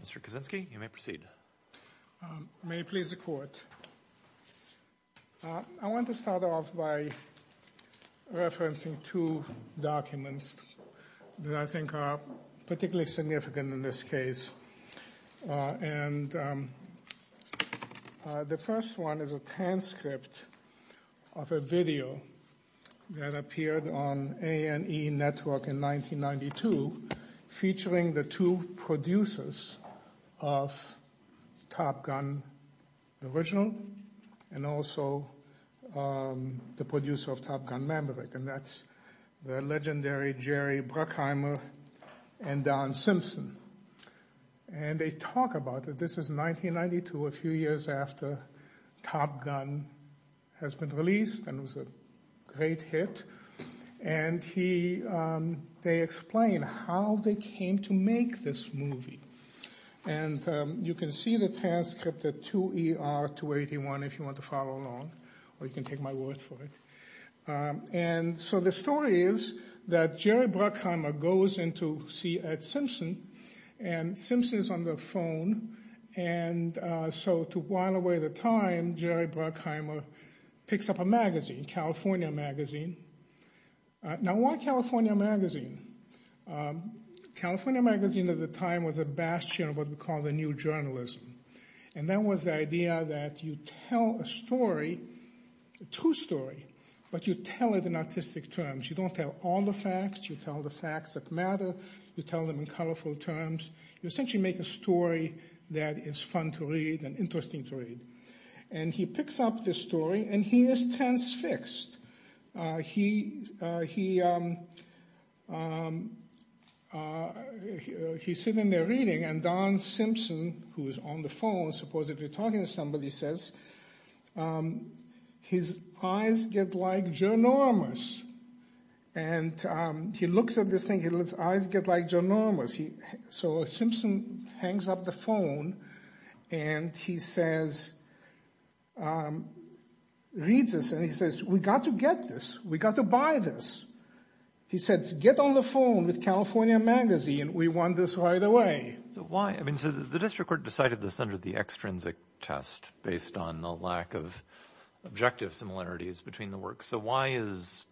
Mr. Kaczynski, you may proceed. May it please the Court. I want to start off by referencing two documents that I think are particularly significant in this case. And the first one is a transcript of a video that appeared on A&E Network in 1992, featuring the two producers of Top Gun, the original, and also the producer of Top Gun, Mambarek. And that's the legendary Jerry Bruckheimer and Don Simpson. And they talk about it. This is 1992, a few years after Top Gun has been released and was a great hit. And they explain how they came to make this movie. And you can see the transcript at 2ER281 if you want to follow along, or you can take my word for it. And so the story is that Jerry Bruckheimer goes in to see Ed Simpson, and Simpson is on the phone. And so to while away the time, Jerry Bruckheimer picks up a magazine, California magazine. Now why California magazine? California magazine at the time was a bastion of what we call the new journalism. And that was the idea that you tell a story, a true story, but you tell it in artistic terms. You don't tell all the facts, you tell the facts that matter, you tell them in colorful terms. You essentially make a story that is fun to read and interesting to read. And he picks up this story, and he is transfixed. He's sitting there reading, and Don Simpson, who is on the phone, supposedly talking to somebody, says, his eyes get like ginormous. And he looks at this thing, his eyes get like ginormous. So Simpson hangs up the phone, and he says, reads this, and he says, we got to get this. We got to buy this. He says, get on the phone with California magazine. We want this right away. So why? I mean, so the district court decided this under the extrinsic test based on the lack of objective similarities between the works. So why is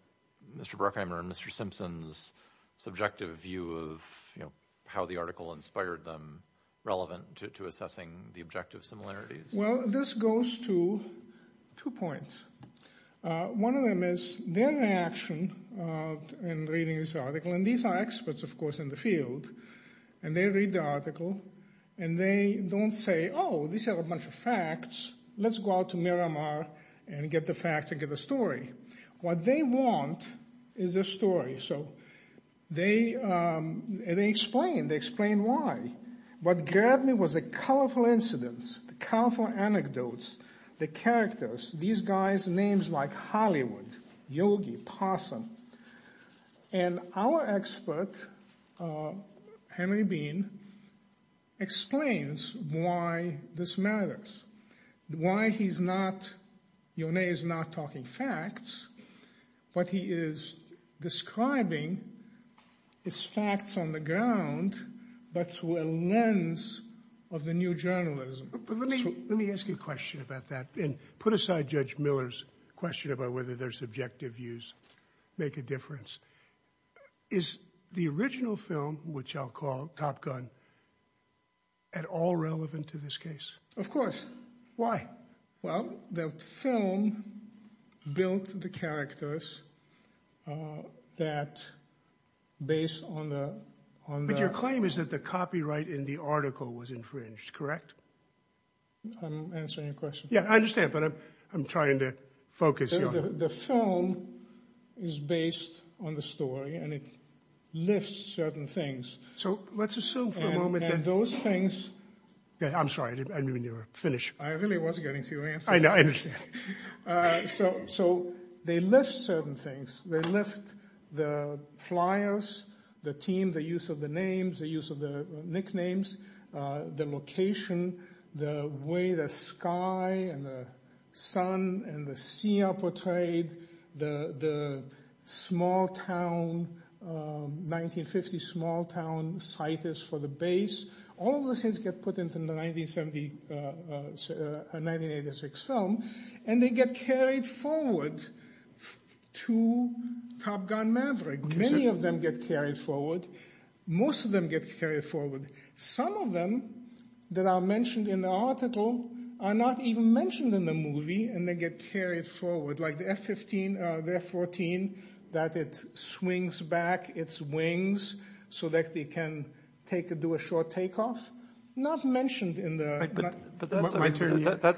Mr. Bruckheimer and Mr. Simpson's subjective view of how the article inspired them relevant to assessing the objective similarities? Well, this goes to two points. One of them is their reaction in reading this article, and these are experts, of course, in the field. And they read the article, and they don't say, oh, these are a bunch of facts. Let's go out to Miramar and get the facts and get a story. What they want is a story. So they explain. They explain why. What grabbed me was the colorful incidents, the colorful anecdotes, the characters, these guys' names like Hollywood, Yogi, Possum. And our expert, Henry Bean, explains why this matters, why he's not, Yonet is not talking facts, but he is describing his facts on the ground, but through a lens of the new journalism. Let me ask you a question about that, and put aside Judge Miller's question about whether their subjective views make a difference. Is the original film, which I'll call Top Gun, at all relevant to this case? Of course. Well, the film built the characters that, based on the... But your claim is that the copyright in the article was infringed, correct? I'm answering your question. Yeah, I understand, but I'm trying to focus. The film is based on the story, and it lifts certain things. So, let's assume for a moment that... And those things... I'm sorry, I didn't mean to finish. I really was getting to your answer. I know, I understand. So, they lift certain things. They lift the flyers, the team, the use of the names, the use of the nicknames, the location, the way the sky, and the sun, and the sea are portrayed, the small town, 1950s small town site is for the base. All of those things get put into a 1970, a 1986 film, and they get carried forward to Top Gun Maverick. Many of them get carried forward. Most of them get carried forward. Some of them that are mentioned in the article are not even mentioned in the movie, and they get carried forward. Like the F-15, the F-14, that it swings back its wings so that it can do a short takeoff. Not mentioned in the... But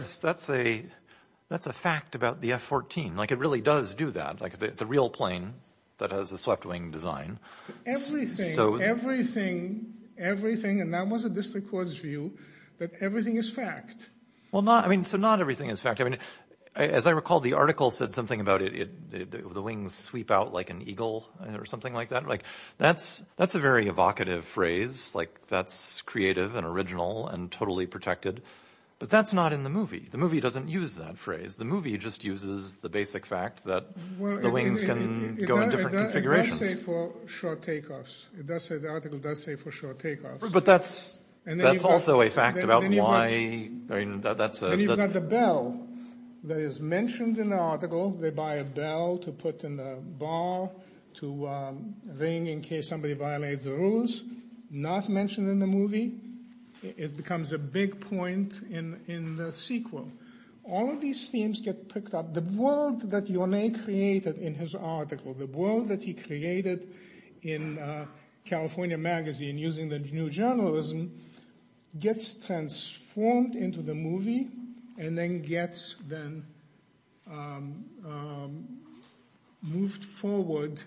that's a fact about the F-14. It really does do that. It's a real plane that has a swept wing design. Everything, everything, everything, and that was a district court's view, that everything is fact. Well, not, I mean, so not everything is fact. As I recall, the article said something about it, the wings sweep out like an eagle, or something like that. Like, that's a very evocative phrase, like that's creative and original and totally protected. But that's not in the movie. The movie doesn't use that phrase. The movie just uses the basic fact that the wings can go in different configurations. It does say for short takeoffs. It does say, the article does say for short takeoffs. But that's, that's also a fact about why, I mean, that's a... And you've got the bell that is mentioned in the article. They buy a bell to put in the bar to ring in case somebody violates the rules. Not mentioned in the movie. It becomes a big point in the sequel. All of these themes get picked up. The world that Yonei created in his article, the world that he created in California Magazine using the new journalism, gets transformed into the movie and then gets then moved forward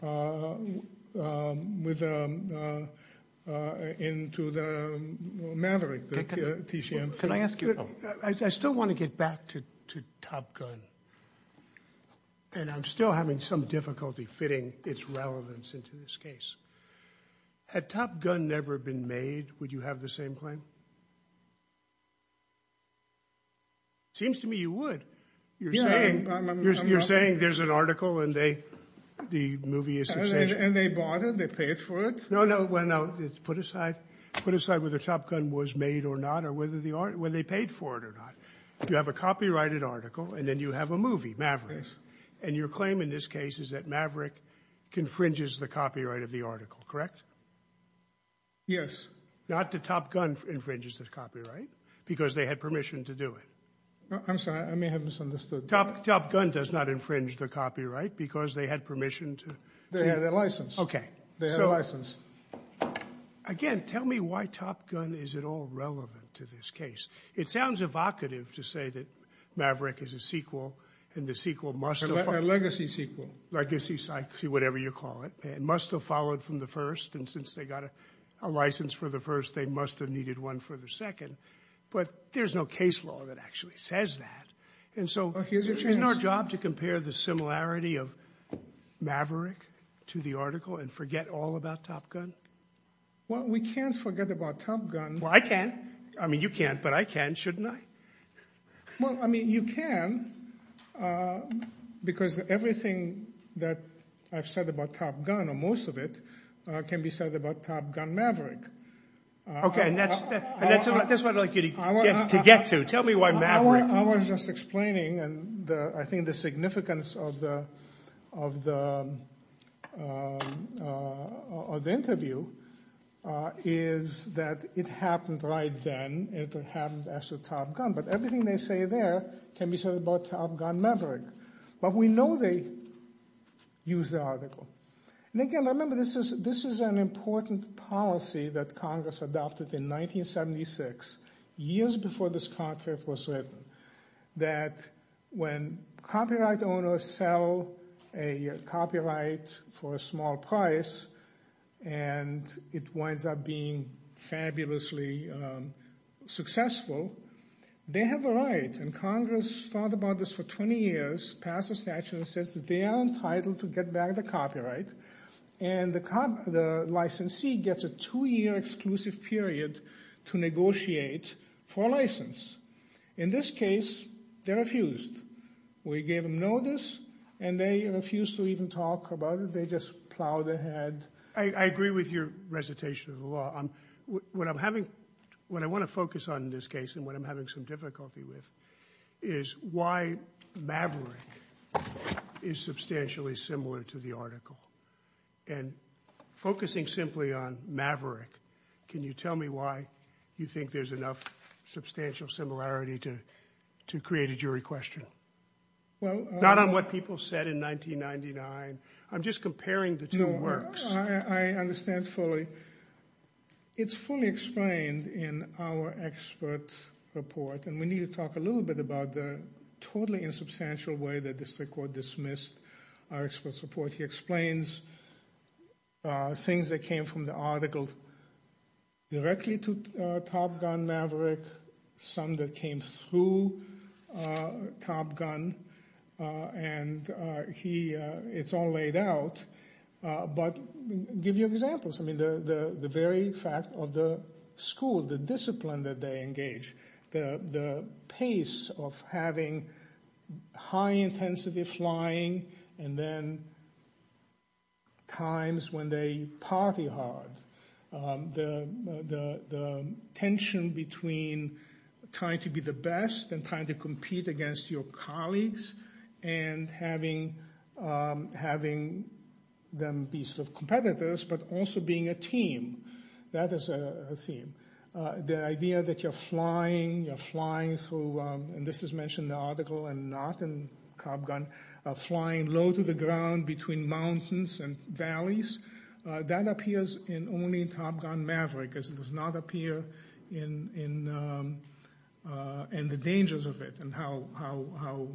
with, into the maverick that T.C.M. Can I ask you, I still want to get back to Top Gun. And I'm still having some difficulty fitting its relevance into this case. Had Top Gun never been made, would you have the same claim? Seems to me you would. You're saying, you're saying there's an article and they, the movie is... And they bought it, they paid for it? No, no, put aside, put aside whether Top Gun was made or not, or whether they paid for it or not. You have a copyrighted article and then you have a movie, Maverick. And your claim in this case is that Maverick infringes the copyright of the article, correct? Yes. Not that Top Gun infringes the copyright, because they had permission to do it. I'm sorry, I may have misunderstood. Top Gun does not infringe the copyright because they had permission to... They had a license. They had a license. Again, tell me why Top Gun is at all relevant to this case. It sounds evocative to say that Maverick is a sequel, and the sequel must have... A legacy sequel. A legacy sequel, whatever you call it, and must have followed from the first. And since they got a license for the first, they must have needed one for the second. But there's no case law that actually says that. And so isn't our job to compare the similarity of Maverick to the article and forget all about Top Gun? Well, we can't forget about Top Gun. Well, I can. I mean, you can't, but I can, shouldn't I? Well, I mean, you can, because everything that I've said about Top Gun, or most of it, can be said about Top Gun Maverick. Okay, and that's what I'd like you to get to. Tell me why Maverick... I was just explaining, and I think the significance of the interview is that it happened right then. It happened after Top Gun, but everything they say there can be said about Top Gun Maverick. But we know they used the article. And again, remember, this is an important policy that Congress adopted in 1976, years before this contract was written, that when copyright owners sell a copyright for a small price, and it winds up being fabulously successful, they have a right, and Congress thought about this for 20 years, passed a statute that says they are entitled to get back the copyright, and the licensee gets a two-year exclusive period to negotiate for a license. In this case, they refused. We gave them notice, and they refused to even talk about it. They just plowed ahead. I agree with your recitation of the law. What I want to focus on in this case, and what I'm having some difficulty with, is why Maverick is substantially similar to the article. And focusing simply on Maverick, can you tell me why you think there's enough substantial similarity to create a jury question? Not on what people said in 1999. I'm just comparing the two works. I understand fully. It's fully explained in our expert report, and we need to talk a little bit about the totally insubstantial way that the district court dismissed our expert report. He explains things that came from the article directly to Top Gun Maverick, some that came through Top Gun, and it's all laid out. But I'll give you examples. The very fact of the school, the discipline that they engage, the pace of having high intensity flying, and then times when they party hard. The tension between trying to be the best, and trying to compete against your colleagues, and having them be sort of competitors, but also being a team. That is a theme. The idea that you're flying, you're flying through, and this is mentioned in the article and not in Top Gun, flying low to the ground between mountains and valleys, that appears only in Top Gun Maverick. It does not appear in the dangers of it, and how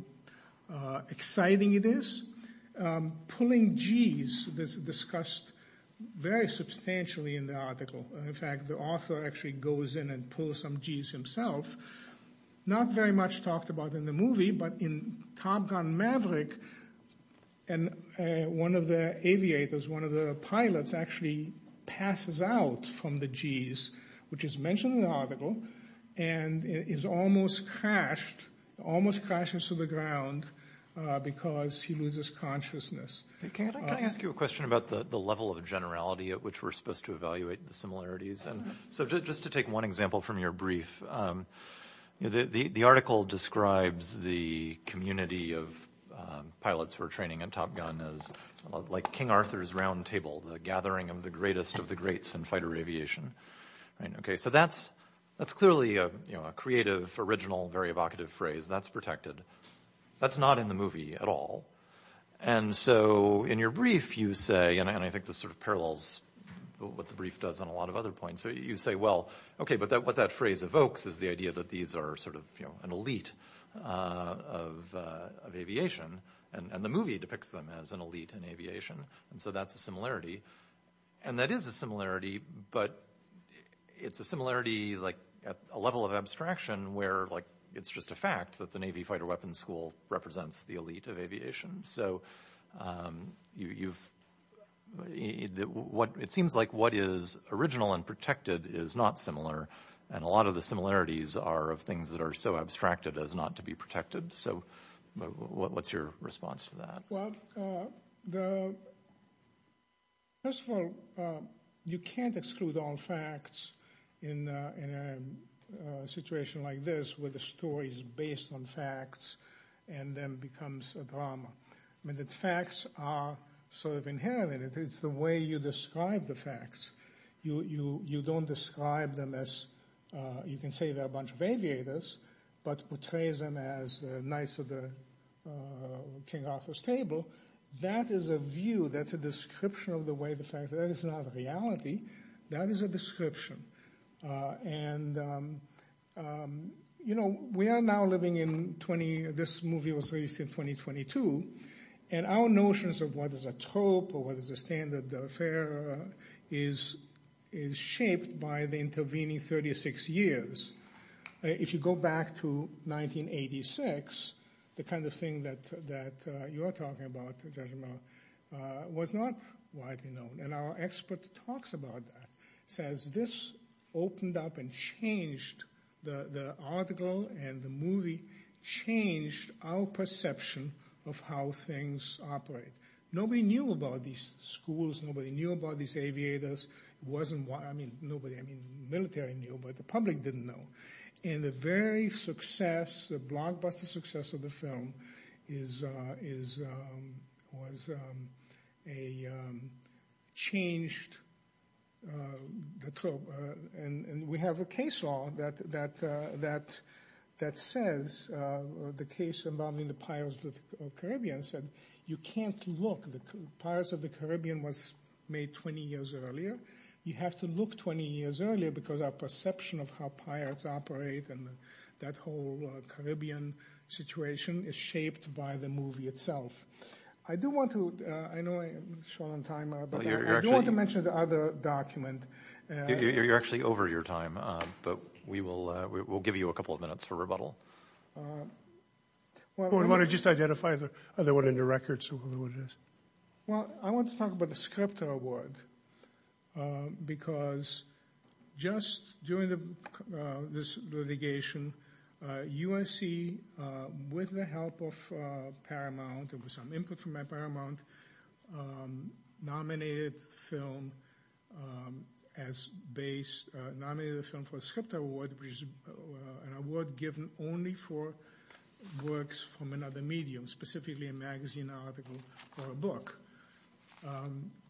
exciting it is. Pulling G's is discussed very substantially in the article. In fact, the author actually goes in and pulls some G's himself. Not very much talked about in the movie, but in Top Gun Maverick, one of the aviators, one of the pilots, actually passes out from the G's, which is mentioned in the article, and is almost crashed, almost crashes to the ground, because he loses consciousness. Can I ask you a question about the level of generality at which we're supposed to evaluate the similarities? Just to take one example from your brief, the article describes the community of pilots who are training in Top Gun as like King Arthur's Round Table, the gathering of the greatest of the greats in fighter aviation. That's clearly a creative, original, very evocative phrase. That's protected. That's not in the movie at all. In your brief, you say, and I think this sort of parallels what the brief does on a lot of other points, you say, well, okay, but what that phrase evokes is the idea that these are sort of an elite of aviation, and the movie depicts them as an elite in aviation, and so that's a similarity. And that is a similarity, but it's a similarity at a level of abstraction where it's just a fact that the Navy Fighter Weapons School represents the elite of aviation. So you've... It seems like what is original and protected is not similar, and a lot of the similarities are of things that are so abstracted as not to be protected. So what's your response to that? Well, the... First of all, you can't exclude all facts in a situation like this where the story is based on facts and then becomes a drama. I mean, the facts are sort of inherited. It's the way you describe the facts. You don't describe them as... You can say they're a bunch of aviators, but portray them as the knights of the king Arthur's table. That is a view, that's a description of the way the facts... That is not reality. That is a description. And, you know, we are now living in 20... This movie was released in 2022, and our notions of what is a trope or what is a standard affair is shaped by the intervening 36 years. If you go back to 1986, the kind of thing that you are talking about, Judge Merrill, was not widely known. And our expert talks about that, says this opened up and changed the article and the movie, changed our perception of how things operate. Nobody knew about these schools. Nobody knew about these aviators. It wasn't widely... I mean, nobody, I mean, the military knew, but the public didn't know. And the very success, the blockbuster success of the film was a... changed the trope. And we have a case law that says, the case involving the Pirates of the Caribbean, said you can't look. The Pirates of the Caribbean was made 20 years earlier. You have to look 20 years earlier because our perception of how pirates operate and that whole Caribbean situation is shaped by the movie itself. I do want to... I know I'm short on time, but I do want to mention the other document. You're actually over your time, but we will give you a couple of minutes for rebuttal. Do you want to just identify the other one in the record? Well, I want to talk about the Scripter Award because just during this litigation, UNC, with the help of Paramount, with some input from Paramount, nominated the film as based... nominated the film for a Scripter Award, which is an award given only for works from another medium, specifically a magazine article or a book.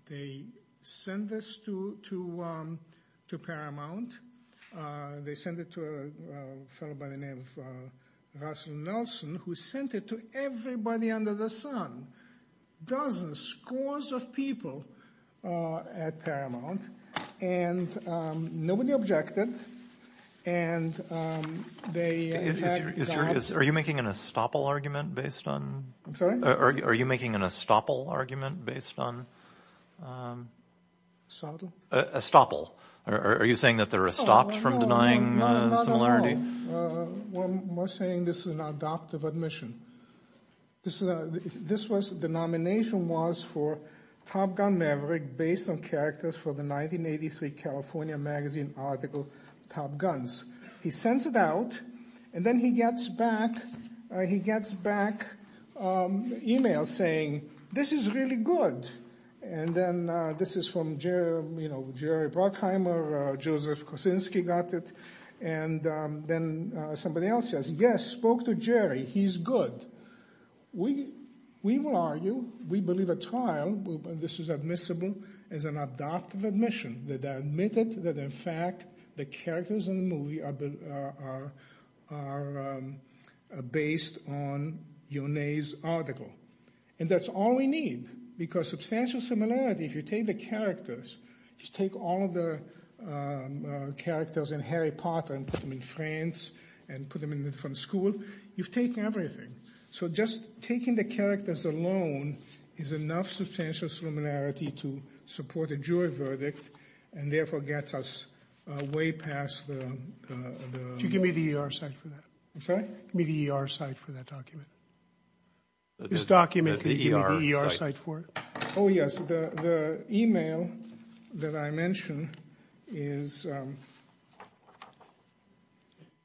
They sent this to Paramount. They sent it to a fellow by the name of Russell Nelson who sent it to everybody under the sun. Dozens, scores of people at Paramount. And nobody objected. And they... Are you making an estoppel argument based on... I'm sorry? Are you making an estoppel argument based on... Estoppel? Estoppel. Are you saying that they're estopped from denying similarity? No, no, no. We're saying this is an adoptive admission. This was... The nomination was for Top Gun Maverick based on characters for the 1983 California magazine article Top Guns. He sends it out. And then he gets back... He gets back emails saying, this is really good. And then this is from Jerry Bruckheimer. Joseph Kosinski got it. And then somebody else says, yes, spoke to Jerry. He's good. We will argue, we believe a trial, this is admissible as an adoptive admission that admitted that in fact the characters in the movie are based on Yone's article. And that's all we need. Because substantial similarity, if you take the characters, just take all of the characters in Harry Potter and put them in France and put them from school, you've taken everything. So just taking the characters alone is enough substantial similarity to support a jury verdict and therefore gets us way past the... Could you give me the ER site for that? I'm sorry? Give me the ER site for that document. This document, could you give me the ER site for it? Oh, yes. The email that I mentioned is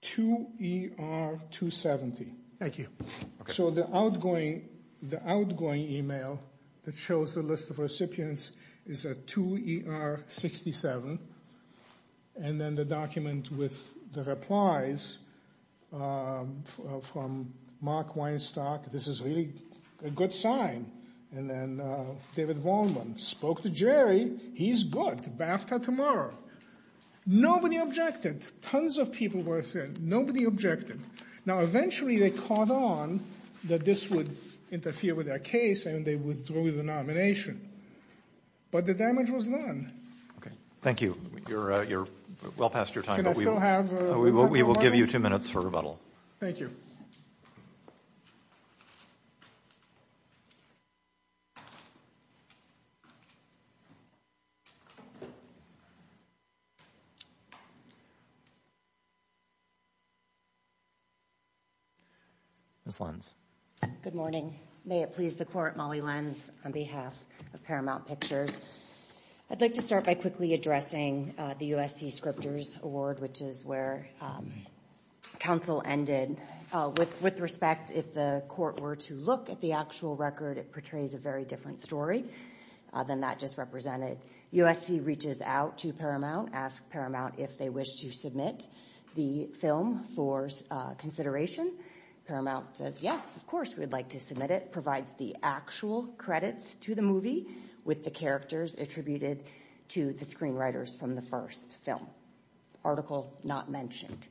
2ER270. Thank you. So the outgoing email that shows the list of recipients is at 2ER67. And then the document with the replies from Mark Weinstock, this is really a good sign. And then David Wallman spoke to Jerry. He's good. BAFTA tomorrow. Nobody objected. Tons of people were there. Nobody objected. Now eventually they caught on that this would interfere with their case and they withdrew the nomination. But the damage was done. Thank you. You're well past your time. Can I still have... We will give you two minutes for rebuttal. Thank you. Ms. Lenz. Good morning. May it please the Court, Molly Lenz on behalf of Paramount Pictures. I'd like to start by quickly addressing the USC Scripters Award, which is where counsel ended. With respect, if the court were to look at the actual record, it particularly would be the USC Scripters Award. It portrays a very different story than that just represented. USC reaches out to Paramount, asks Paramount if they wish to submit the film for consideration. Paramount says, yes, of course we'd like to submit it, provides the actual credits to the movie with the characters attributed to the screenwriters from the first film. Article not mentioned.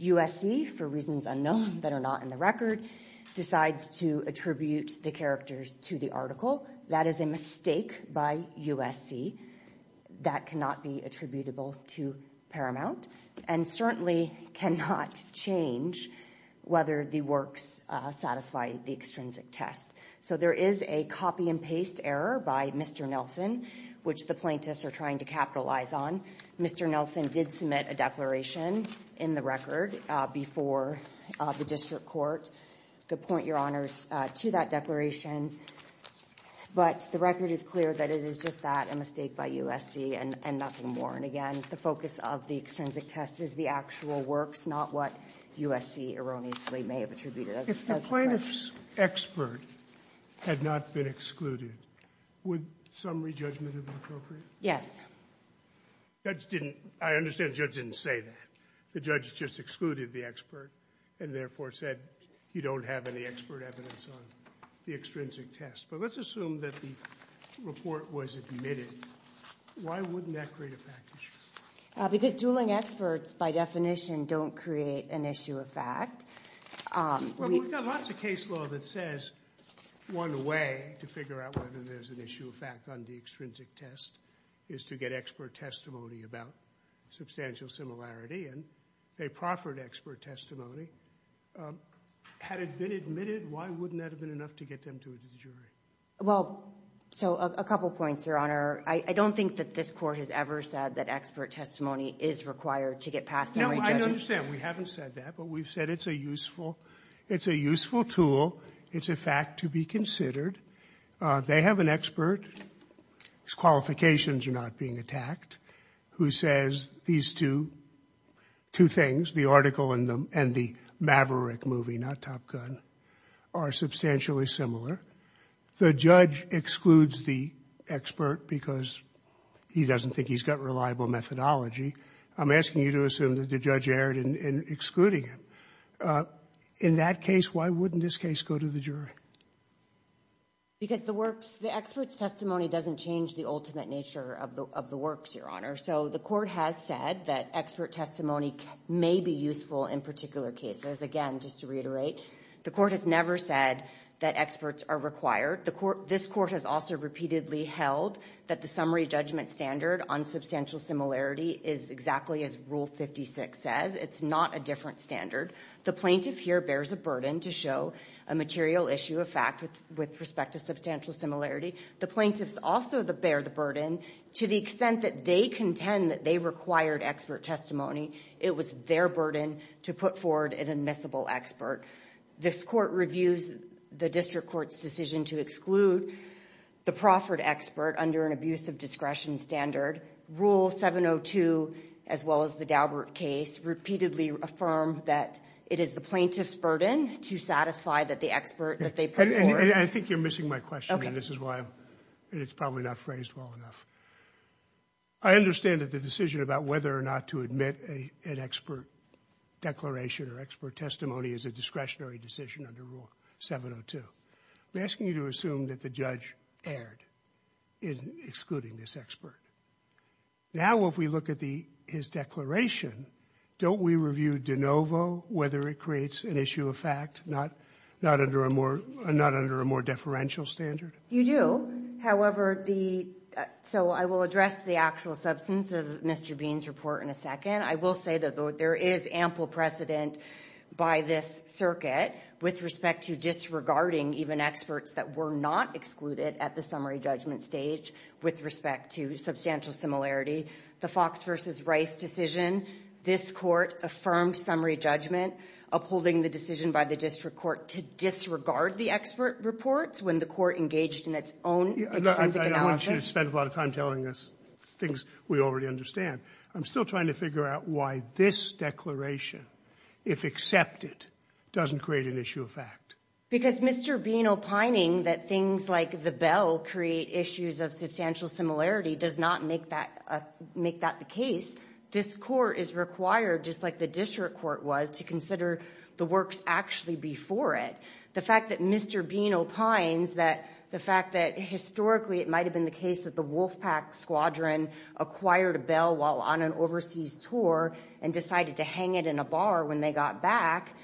USC, for reasons unknown that are not in the record, decides to attribute the characters to the article. That is a mistake by USC. That cannot be attributable to Paramount and certainly cannot change whether the works satisfy the extrinsic test. So there is a copy and paste error by Mr. Nelson, which the plaintiffs are trying to capitalize on. Mr. Nelson did submit a declaration in the record before the district court. Good point, Your Honors, to that declaration. But the record is clear that it is just that, a mistake by USC and nothing more. And again, the focus of the extrinsic test is the actual works, not what USC erroneously may have attributed. If the plaintiff's expert had not been excluded, would summary judgment have been appropriate? Yes. I understand the judge didn't say that. The judge just excluded the expert and therefore said you don't have any expert evidence on the extrinsic test. But let's assume that the report was admitted. Why wouldn't that create a fact issue? Because dueling experts, by definition, don't create an issue of fact. We've got lots of case law that says one way to figure out whether there's an issue of fact on the extrinsic test is to get expert testimony about substantial similarity. And they proffered expert testimony. Had it been admitted, why wouldn't that have been enough to get them to a jury? Well, so a couple points, Your Honor. I don't think that this Court has ever said that expert testimony is required to get past summary judgment. No, I understand. We haven't said that, but we've said it's a useful tool. It's a fact to be considered. They have an expert. His qualifications are not being attacked. Who says these two things, the article and the maverick movie, not Top Gun, are substantially similar. The judge excludes the expert because he doesn't think he's got reliable methodology. I'm asking you to assume that the judge erred in excluding him. In that case, why wouldn't this case go to the jury? Because the expert's testimony doesn't change the ultimate nature of the works, Your Honor. So the Court has said that expert testimony may be useful in particular cases. Again, just to reiterate, the Court has never said that experts are required. This Court has also repeatedly held that the summary judgment standard on substantial similarity is exactly as Rule 56 says. It's not a different standard. The plaintiff here bears a burden to show a material issue of fact with respect to substantial similarity. The plaintiffs also bear the burden to the extent that they contend that they required expert testimony. It was their burden to put forward an admissible expert. This Court reviews the District Court's decision to exclude the proffered expert under an abuse of discretion standard. Rule 702, as well as the Daubert case, repeatedly affirmed that it is the plaintiff's burden to satisfy that the expert that they put forward... And I think you're missing my question, and this is why it's probably not phrased well enough. I understand that the decision about whether or not to admit an expert declaration or expert testimony is a discretionary decision under Rule 702. I'm asking you to assume that the judge erred in excluding this expert. Now, if we look at his declaration, don't we review de novo whether it creates an issue of fact, not under a more deferential standard? You do. However, the... So I will address the actual substance of Mr. Bean's report in a second. I will say that there is ample precedent by this circuit with respect to disregarding even experts that were not excluded at the summary judgment stage with respect to substantial similarity. The Fox v. Rice decision, this Court affirmed summary judgment upholding the decision by the district court to disregard the expert reports when the court engaged in its own extrinsic analysis. I don't want you to spend a lot of time telling us things we already understand. I'm still trying to figure out why this declaration, if accepted, doesn't create an issue of fact. Because Mr. Bean opining that things like the bell create issues of substantial similarity does not make that the case. This Court is required, just like the district court was, to consider the works actually before it. The fact that Mr. Bean opines that the fact that historically it might have been the case that the Wolfpack squadron acquired a bell while on an overseas tour and decided to hang it in a bar when they got back,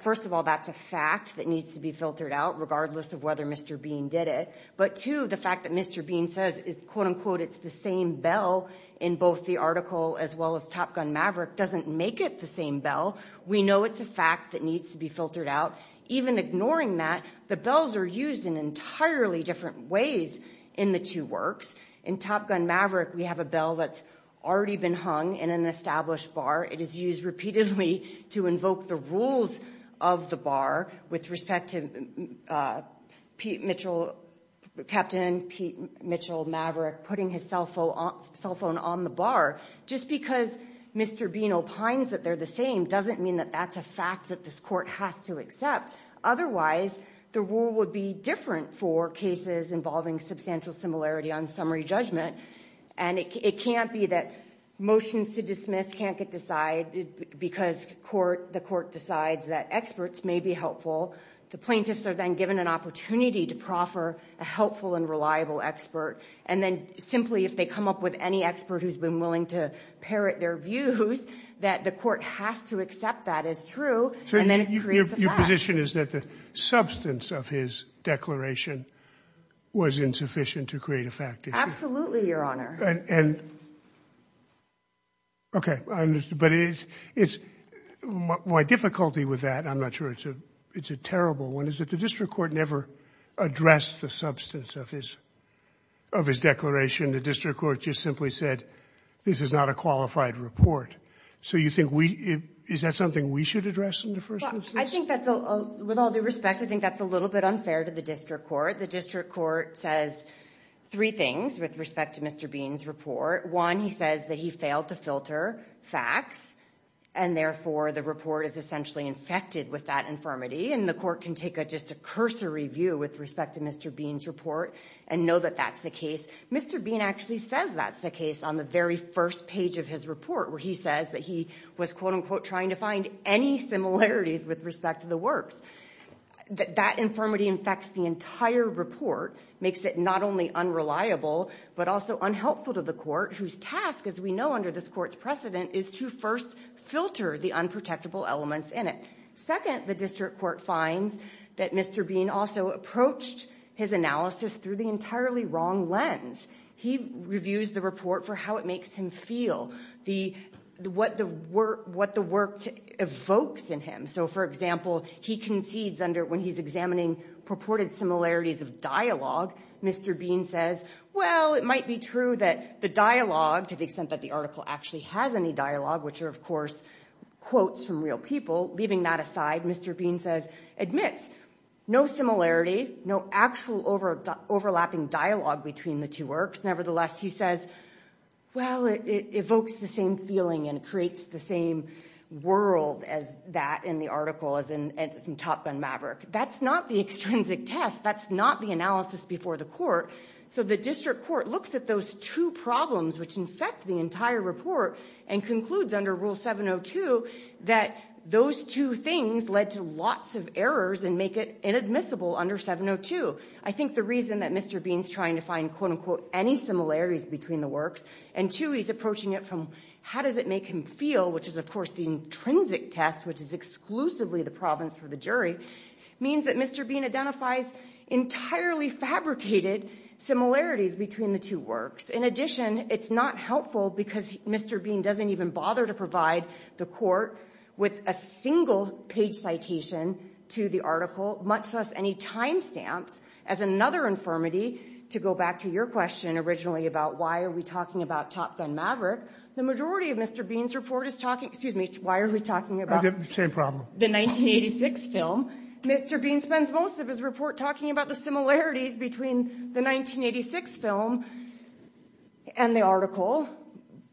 first of all, that's a fact that needs to be filtered out regardless of whether Mr. Bean did it. But two, the fact that Mr. Bean says, quote-unquote, it's the same bell in both the article as well as Top Gun Maverick doesn't make it the same bell. We know it's a fact that needs to be filtered out. Even ignoring that, the bells are used in entirely different ways in the two works. In Top Gun Maverick, we have a bell that's already been hung in an established bar. It is used repeatedly to invoke the rules of the bar with respect to Pete Mitchell, Captain Pete Mitchell Maverick putting his cell phone on the bar just because Mr. Bean opines that they're the same doesn't mean that that's a fact that this court has to accept. Otherwise, the rule would be different for cases involving substantial similarity on summary judgment. And it can't be that motions to dismiss can't get decided because the court decides that experts may be helpful. The plaintiffs are then given an opportunity to proffer a helpful and reliable expert. And then simply if they come up with any expert who's been willing to parrot their views, that the court has to accept that as true, and then it creates a fact. Your position is that the substance of his declaration was insufficient to create a fact? Absolutely, Your Honor. Okay, but my difficulty with that, I'm not sure it's a terrible one, is that the district court never addressed the substance of his declaration. The district court just simply said this is not a qualified report. Is that something we should address in the first instance? With all due respect, I think that's a little bit unfair to the district court. The district court says three things with respect to Mr. Bean's report. One, he says that he failed to filter facts, and therefore the report is essentially infected with that infirmity, and the court can take just a cursory view with respect to Mr. Bean's report and know that that's the case. Mr. Bean actually says that's the case on the very first page of his report where he says that he was, quote unquote, trying to find any similarities with respect to the works. That that infirmity infects the entire report makes it not only unreliable, but also unhelpful to the court whose task, as we know under this court's precedent, is to first filter the unprotectable elements in it. Second, the district court finds that Mr. Bean also approached his analysis through the entirely wrong lens. He reviews the report for how it makes him feel, what the work evokes in him. So, for example, he concedes under, when he's examining purported similarities of dialogue, Mr. Bean says, well, it might be true that the dialogue, to the extent that the article actually has any dialogue, which are, of course, quotes from real people. Leaving that aside, Mr. Bean admits no similarity, no actual overlapping dialogue between the two works. Nevertheless, he says, well, it evokes the same feeling and creates the same world as that in the article, as in Top Gun Maverick. That's not the extrinsic test. That's not the analysis before the court. So the district court looks at those two problems which infect the entire report and concludes under Rule 702 that those two things led to lots of errors and make it inadmissible under 702. I think the reason that Mr. Bean's trying to find any similarities between the works, and two, he's approaching it from how does it make him feel, which is, of course, the intrinsic test, which is exclusively the province for the jury, means that Mr. Bean identifies entirely fabricated similarities between the two works. In addition, it's not helpful because Mr. Bean doesn't even bother to provide the court with a single page citation to the article, much less any timestamps as another infirmity to go back to your question originally about why are we talking about Top Gun Maverick. The majority of Mr. Bean's report is talking, excuse me, why are we talking about the 1986 film? Mr. Bean spends most of his report talking about the similarities between the 1986 film and the article,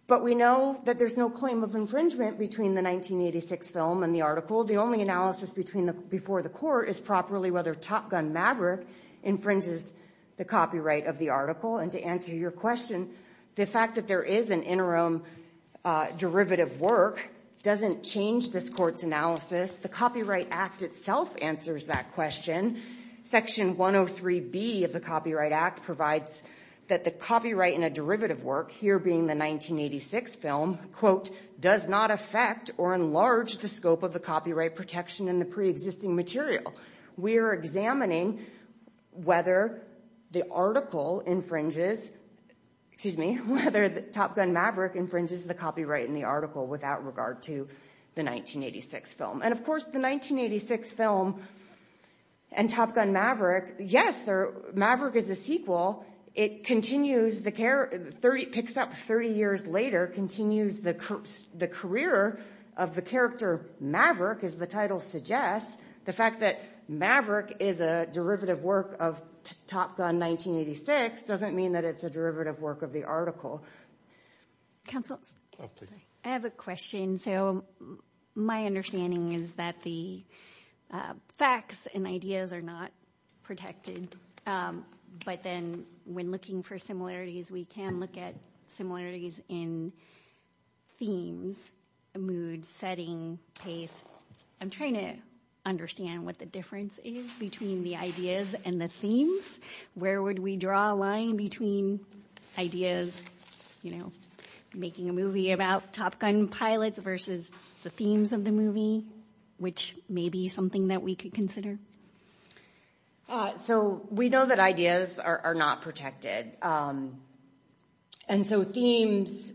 but we know that there's no claim of infringement between the 1986 film and the article. The only analysis before the court is properly whether Top Gun Maverick infringes the copyright of the article, and to answer your question, the fact that there is an interim derivative work doesn't change this court's analysis. The Copyright Act itself answers that question. Section 103B of the Copyright Act provides that the copyright in a derivative work, here being the 1986 film, quote, does not affect or enlarge the scope of the copyright protection in the preexisting material. We are examining whether the article infringes, excuse me, whether Top Gun Maverick infringes the copyright in the article without regard to the 1986 film, and of course, the 1986 film and Top Gun Maverick, yes, Maverick is a sequel. It picks up 30 years later, continues the career of the character Maverick, as the title suggests. The fact that Maverick is a derivative work of Top Gun 1986 doesn't mean that it's a derivative work of the article. Counsel? I have a question. My understanding is that the facts and ideas are not protected, but then when looking for similarities, we can look at similarities in themes, mood, setting, pace. I'm trying to understand what the difference is between the ideas and the themes. Where would we draw a line between ideas, you know, making a movie about Top Gun pilots versus the themes of the movie, which may be something that we could consider? So we know that ideas are not protected. And so themes,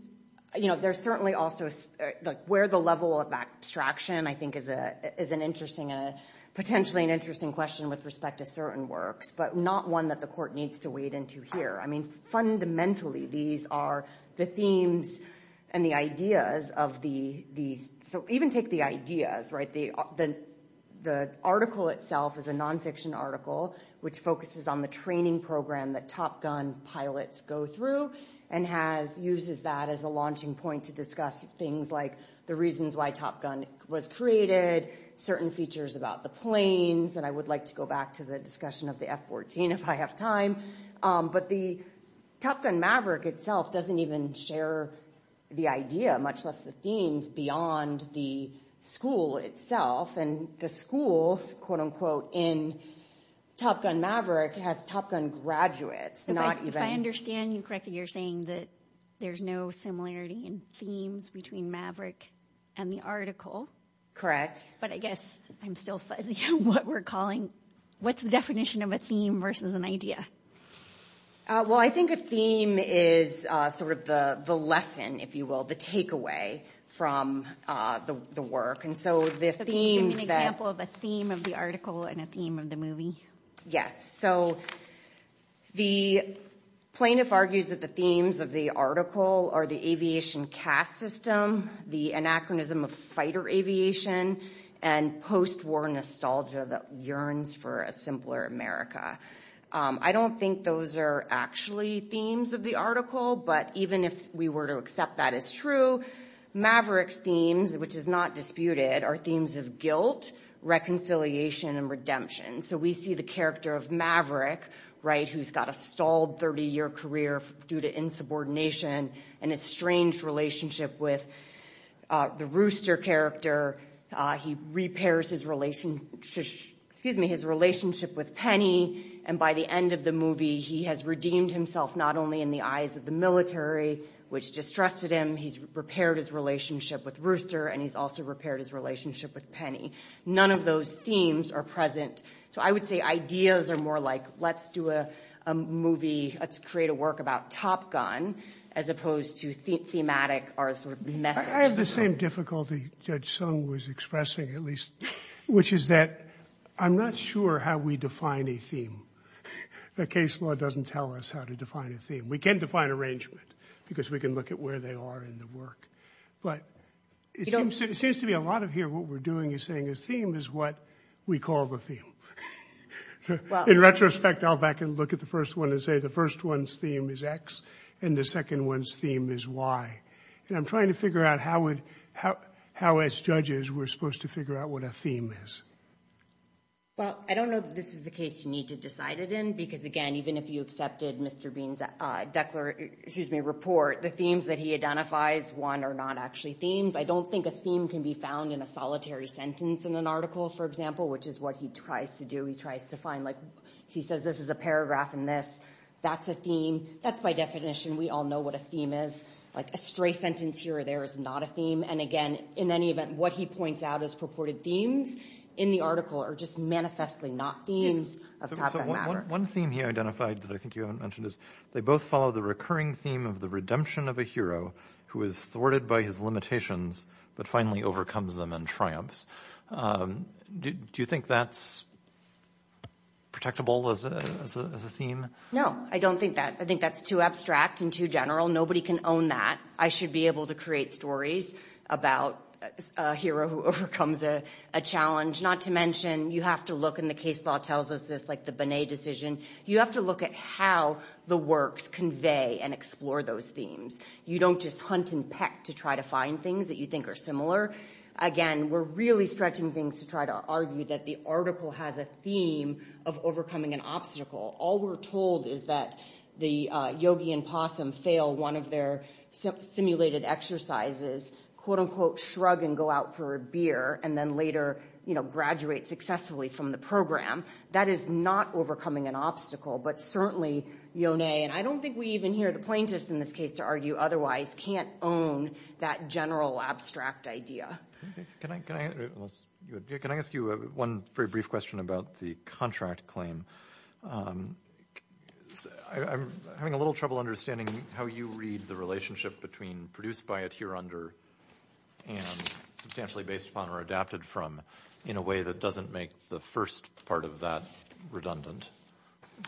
you know, there's certainly also where the level of abstraction, I think, is an interesting, potentially an interesting question with respect to certain works, but not one that the court needs to wade into here. I mean, fundamentally, these are the themes and the ideas of these, so even take the ideas, right? The article itself is a nonfiction article which focuses on the training program that Top Gun pilots go through and uses that as a launching point to discuss things like the reasons why Top Gun was created, certain features about the planes, and I would like to go back to the discussion of the F-14 if I have time, but the Top Gun maverick itself doesn't even share the idea, much less the themes beyond the school itself, and the school quote-unquote, in Top Gun maverick has Top Gun graduates. If I understand you correctly, you're saying that there's no similarity in themes between maverick and the article? Correct. But I guess I'm still fuzzy on what we're calling, what's the definition of a theme versus an idea? Well, I think a theme is sort of the lesson, if you will, the takeaway from the work, and so the themes that... Give me an example of a theme of the article and a theme of the movie. Yes, so the plaintiff argues that the themes of the article are the aviation caste system, the anachronism of fighter aviation, and post-war nostalgia that yearns for a simpler America. I don't think those are actually themes of the article, but even if we were to accept that as true, maverick's themes, which is not disputed, are themes of guilt, reconciliation, and redemption. So we see the character of Maverick, right, who's got a stalled 30-year career due to insubordination and a strange relationship with the rooster character. He repairs his relationship with Penny, and by the end of the movie he has redeemed himself not only in the eyes of the military, which distrusted him, he's repaired his relationship with Rooster, and he's also repaired his relationship with Penny. None of those themes are present. So I would say ideas are more like, let's do a movie, let's create a work about Top Gun, as opposed to thematic or sort of message. I have the same difficulty Judge Sung was expressing, at least, which is that I'm not sure how we define a theme. The case law doesn't tell us how to define a theme. We can define arrangement because we can look at where they are in the work, but it seems to be a lot of here what we're doing is saying a theme is what we call the theme. In retrospect, I'll back and look at the first one and say the first one's theme is X and the second one's theme is Y. And I'm trying to figure out how, as judges, we're supposed to figure out what a theme is. Well, I don't know that this is the case you need to decide it in because, again, even if you accepted Mr. Bean's report, the themes that he identifies, one, are not actually themes. I don't think a theme can be found in a solitary sentence in an article, for example, which is what he tries to do. He tries to find, like, he says this is a paragraph in this. That's a theme. That's, by definition, we all know what a theme is. Like, a stray sentence here or there is not a theme. And, again, in any event, what he points out as purported themes in the article are just manifestly not themes of top-down matter. One theme he identified that I think you haven't mentioned is they both follow the recurring theme of the redemption of a hero who is thwarted by his limitations but finally overcomes them and triumphs. Do you think that's protectable as a theme? No, I don't think that. I think that's too abstract and too general. Nobody can own that. I should be able to create stories about a hero who overcomes a challenge. Not to mention you have to look, and the case law tells us this, like the Binet decision, you have to look at how the works convey and explore those themes. You don't just hunt and peck to try to find things that you think are similar. Again, we're really stretching things to try to argue that the article has a theme of overcoming an obstacle. All we're told is that the yogi and possum fail one of their simulated exercises, quote-unquote shrug and go out for a beer, and then later graduate successfully from the program. That is not overcoming an obstacle, but certainly Yone, and I don't think we even hear the plaintiffs in this case to argue otherwise, can't own that general abstract idea. Can I ask you one very brief question about the contract claim? I'm having a little trouble understanding how you read the relationship between produced by it here under and substantially based upon or adapted from in a way that doesn't make the first part of that redundant.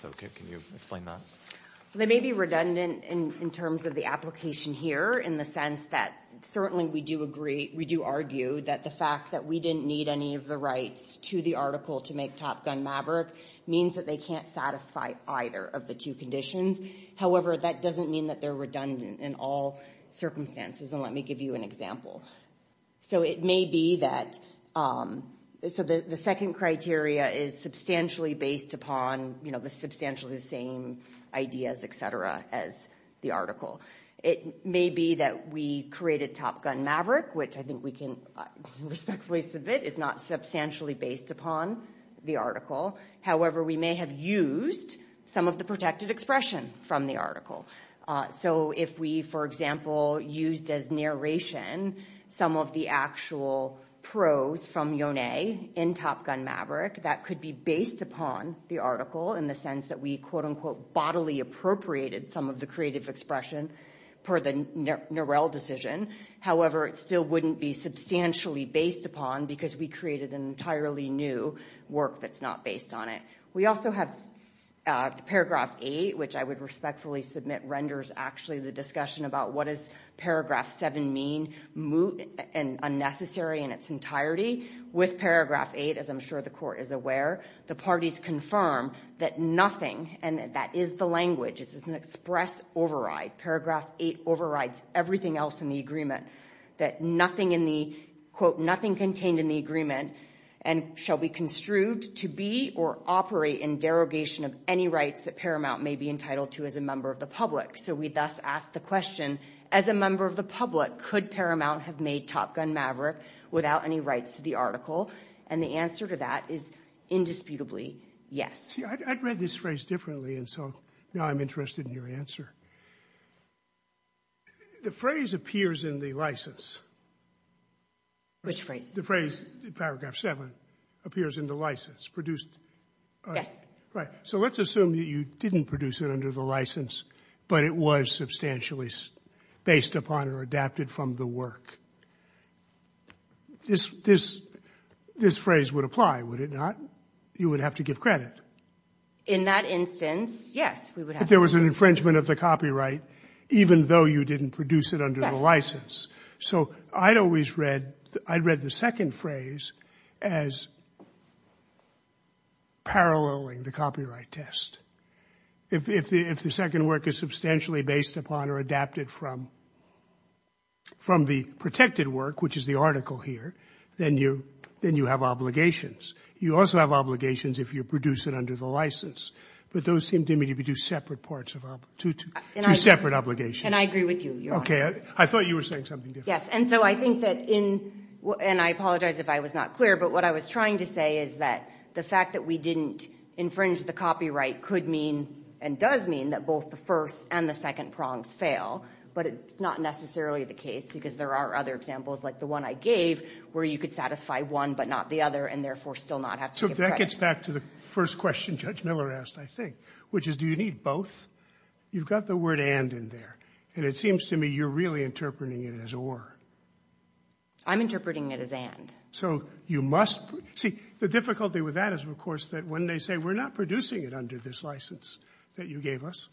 Can you explain that? They may be redundant in terms of the application here in the sense that certainly we do argue that the fact that we didn't need any of the rights to the article to make Top Gun Maverick means that they can't satisfy either of the two conditions. However, that doesn't mean that they're redundant in all circumstances. Let me give you an example. The second criteria is substantially based upon the substantially same ideas, etc. as the article. It may be that we created Top Gun Maverick, which I think we can respectfully submit is not substantially based upon the article. However, we may have used some of the protected expression from the article. If we, for example, used as narration some of the actual prose from Yone in Top Gun Maverick, that could be based upon the article in the sense that we bodily appropriated some of the creative expression per the Norell decision. However, it still wouldn't be substantially based upon because we created an entirely new work that's not based on it. We also have paragraph 8, which I would respectfully submit renders actually the discussion about what does paragraph 7 mean, unnecessary in its entirety. With paragraph 8, as I'm sure the Court is aware, the parties confirm that nothing, and that is the language, this is an express override, paragraph 8 overrides everything else in the agreement, that nothing contained in the agreement shall be construed to be or operate in derogation of any rights that Paramount may be entitled to as a member of the public. We thus ask the question, as a member of the public, could Paramount have made Top Gun Maverick without any rights to the article? And the answer to that is indisputably yes. See, I'd read this phrase differently, and so now I'm interested in your answer. The phrase appears in the license. Which phrase? The phrase, paragraph 7, appears in the license. Yes. Right. So let's assume that you didn't produce it under the license, but it was substantially based upon or adapted from the work. This phrase would apply, would it not? You would have to give credit. In that instance, yes. But there was an infringement of the copyright, even though you didn't produce it under the license. So I'd always read, I'd read the second phrase as paralleling the copyright test. If the second work is substantially based upon or adapted from the protected work, which is the article here, then you have obligations. You also have obligations if you produce it under the license. But those seem to me to be two separate obligations. And I agree with you, Your Honor. I thought you were saying something different. Yes, and so I think that in, and I apologize if I was not clear, but what I was trying to say is that the fact that we didn't infringe the copyright could mean and does mean that both the first and the second prongs fail, but it's not necessarily the case because there are other examples like the one I gave where you could satisfy one but not the other and therefore still not have to give credit. So that gets back to the first question Judge Miller asked, I think, which is do you need both? You've got the word and in there, and it seems to me you're really interpreting it as or. I'm interpreting it as and. So you must, see, the difficulty with that is, of course, that when they say we're not producing it under this license that you gave us,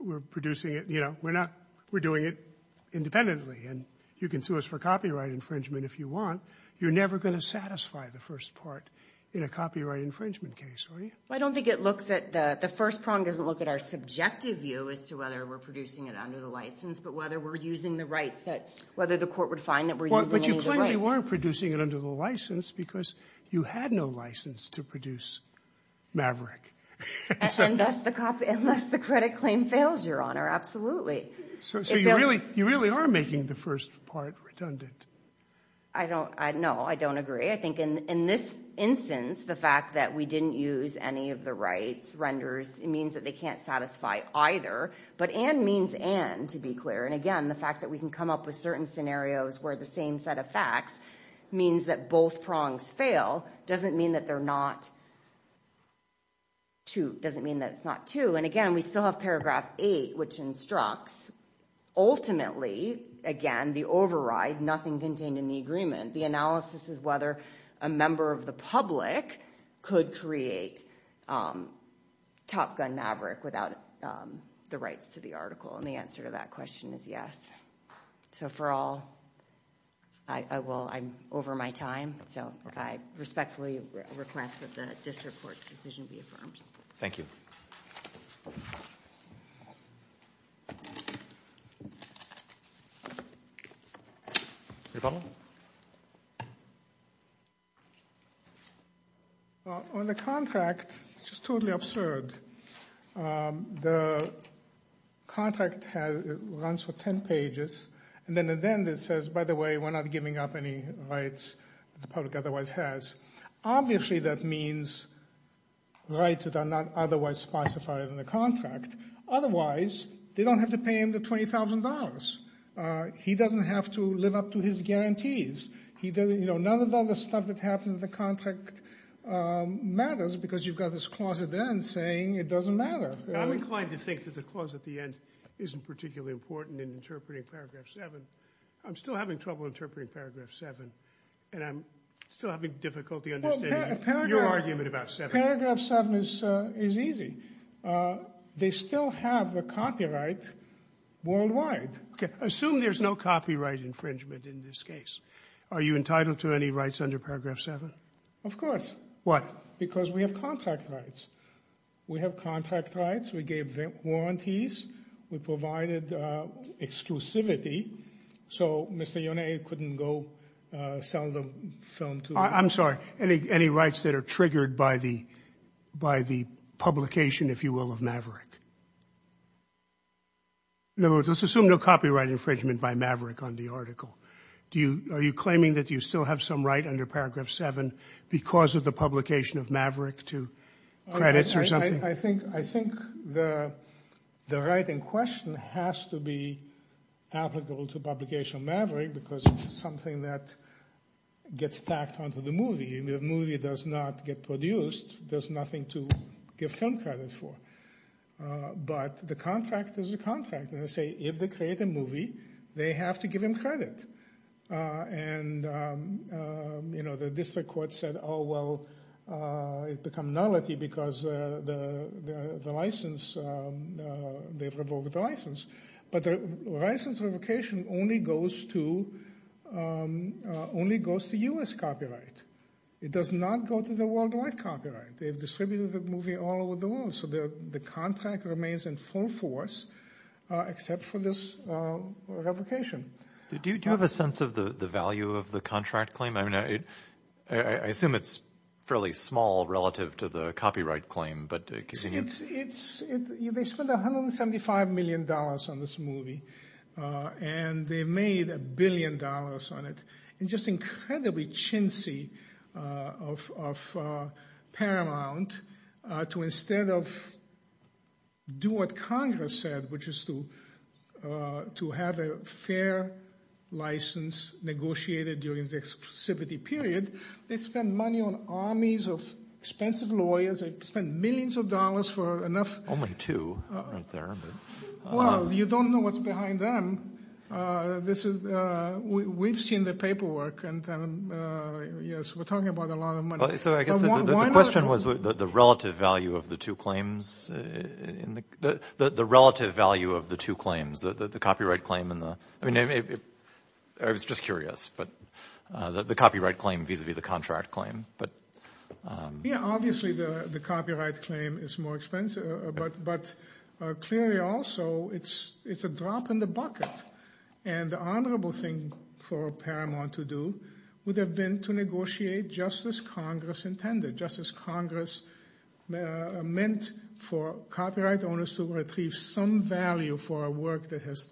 we're producing it, you know, we're not, we're doing it independently, and you can sue us for copyright infringement if you want. You're never going to satisfy the first part in a copyright infringement case, are you? Well, I don't think it looks at the, the first prong doesn't look at our subjective view as to whether we're producing it under the license, but whether we're using the rights that, whether the court would find that we're using any of the rights. Well, but you plainly weren't producing it under the license because you had no license to produce Maverick. And thus the copy, unless the credit claim fails, Your Honor, absolutely. So you really, you really are making the first part redundant. I don't, no, I don't agree. I think in this instance, the fact that we didn't use any of the rights renders, it means that they can't satisfy either. But and means and, to be clear. And again, the fact that we can come up with certain scenarios where the same set of facts means that both prongs fail doesn't mean that they're not two, doesn't mean that it's not two. And again, we still have paragraph eight, which instructs, ultimately, again, the override, nothing contained in the agreement. The analysis is whether a member of the public could create Top Gun Maverick without the rights to the article. And the answer to that question is yes. So for all, I will, I'm over my time. So I respectfully request that the district court's decision be affirmed. Thank you. On the contract, it's just totally absurd. The contract runs for 10 pages, and then at the end it says, by the way, we're not giving up any rights the public otherwise has. Obviously, that means rights that are not otherwise specified in the contract. Otherwise, they don't have to pay him the $20,000. He doesn't have to live up to his guarantees. None of all the stuff that happens in the contract matters because you've got this clause at the end saying it doesn't matter. I'm inclined to think that the clause at the end isn't particularly important in interpreting paragraph seven. I'm still having trouble interpreting paragraph seven, and I'm still having difficulty understanding your argument about seven. Paragraph seven is easy. They still have the copyright worldwide. Okay. Assume there's no copyright infringement in this case. Are you entitled to any rights under paragraph seven? Of course. Why? Because we have contract rights. We have contract rights. We gave warranties. We provided exclusivity. So Mr. Yonah couldn't go sell the film. I'm sorry. Any rights that are triggered by the publication, if you will, of Maverick? In other words, let's assume no copyright infringement by Maverick on the article. Are you claiming that you still have some right under paragraph seven because of the publication of Maverick to credits or something? I think the right in question has to be applicable to publication of Maverick because it's something that gets stacked onto the movie. The movie does not get produced. There's nothing to give film credits for. But the contract is a contract. They say if they create a movie, they have to give them credit. And, you know, the district court said, oh, well, it's become nullity because they've revoked the license. But the license revocation only goes to U.S. copyright. It does not go to the worldwide copyright. They've distributed the movie all over the world. So the contract remains in full force except for this revocation. Do you have a sense of the value of the contract claim? I assume it's fairly small relative to the copyright claim. They spent $175 million on this movie, and they made a billion dollars on it. It's just incredibly chintzy of Paramount to instead of do what Congress said, which is to have a fair license negotiated during the exclusivity period, they spent money on armies of expensive lawyers. They spent millions of dollars for enough. Only two, right there. Well, you don't know what's behind them. We've seen the paperwork, and, yes, we're talking about a lot of money. So I guess the question was the relative value of the two claims. The relative value of the two claims, the copyright claim and the – I was just curious, but the copyright claim vis-à-vis the contract claim. Yeah, obviously the copyright claim is more expensive, but clearly also it's a drop in the bucket. The honorable thing for Paramount to do would have been to negotiate just as Congress intended, just as Congress meant for copyright owners to retrieve some value for a work that has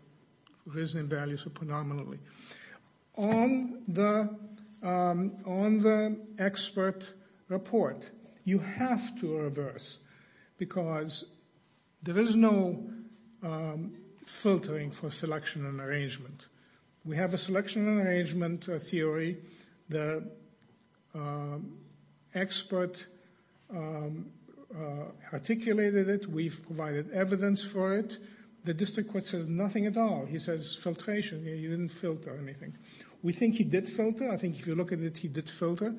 risen in value so predominantly. On the expert report, you have to reverse, because there is no filtering for selection and arrangement. We have a selection and arrangement theory. The expert articulated it. We've provided evidence for it. The district court says nothing at all. He says filtration. He didn't filter anything. We think he did filter. I think if you look at it, he did filter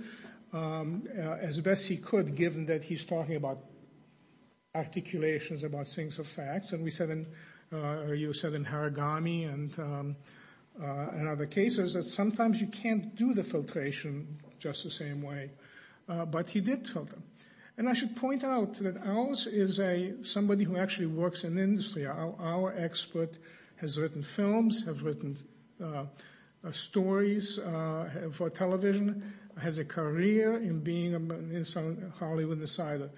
as best he could, given that he's talking about articulations about things of facts. And we said in – or you said in Haragami and other cases that sometimes you can't do the filtration just the same way. But he did filter. And I should point out that ours is somebody who actually works in industry. Our expert has written films, has written stories for television, has a career in being a Hollywood insider.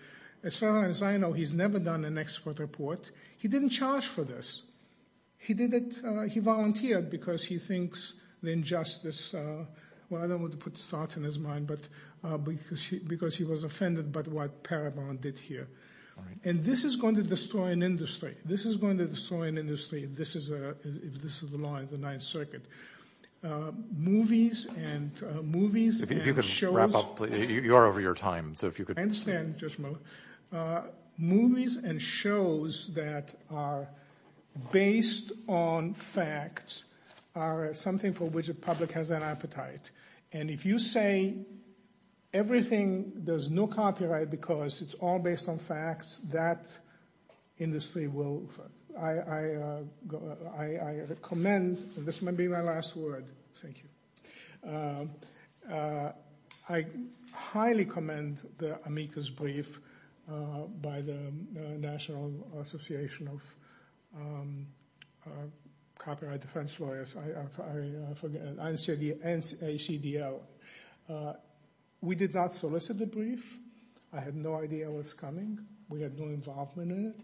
As far as I know, he's never done an expert report. He didn't charge for this. He did it – he volunteered because he thinks the injustice – well, I don't want to put thoughts in his mind, but because he was offended by what Paramount did here. And this is going to destroy an industry. This is going to destroy an industry if this is the law in the Ninth Circuit. Movies and shows – If you could wrap up. You are over your time, so if you could – I understand, Judge Miller. Movies and shows that are based on facts are something for which the public has an appetite. And if you say everything – there's no copyright because it's all based on facts, that industry will – I commend – this may be my last word. Thank you. I highly commend the amicus brief by the National Association of Copyright Defense Lawyers. I forget – NACDL. We did not solicit the brief. I had no idea it was coming. We had no involvement in it.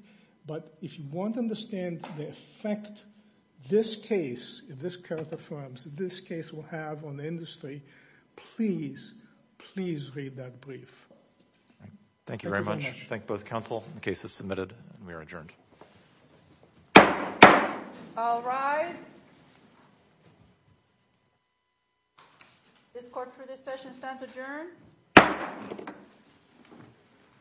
But if you want to understand the effect this case – if this case will have on the industry, please, please read that brief. Thank you very much. Thank both counsel. The case is submitted and we are adjourned. All rise. This court for this session stands adjourned.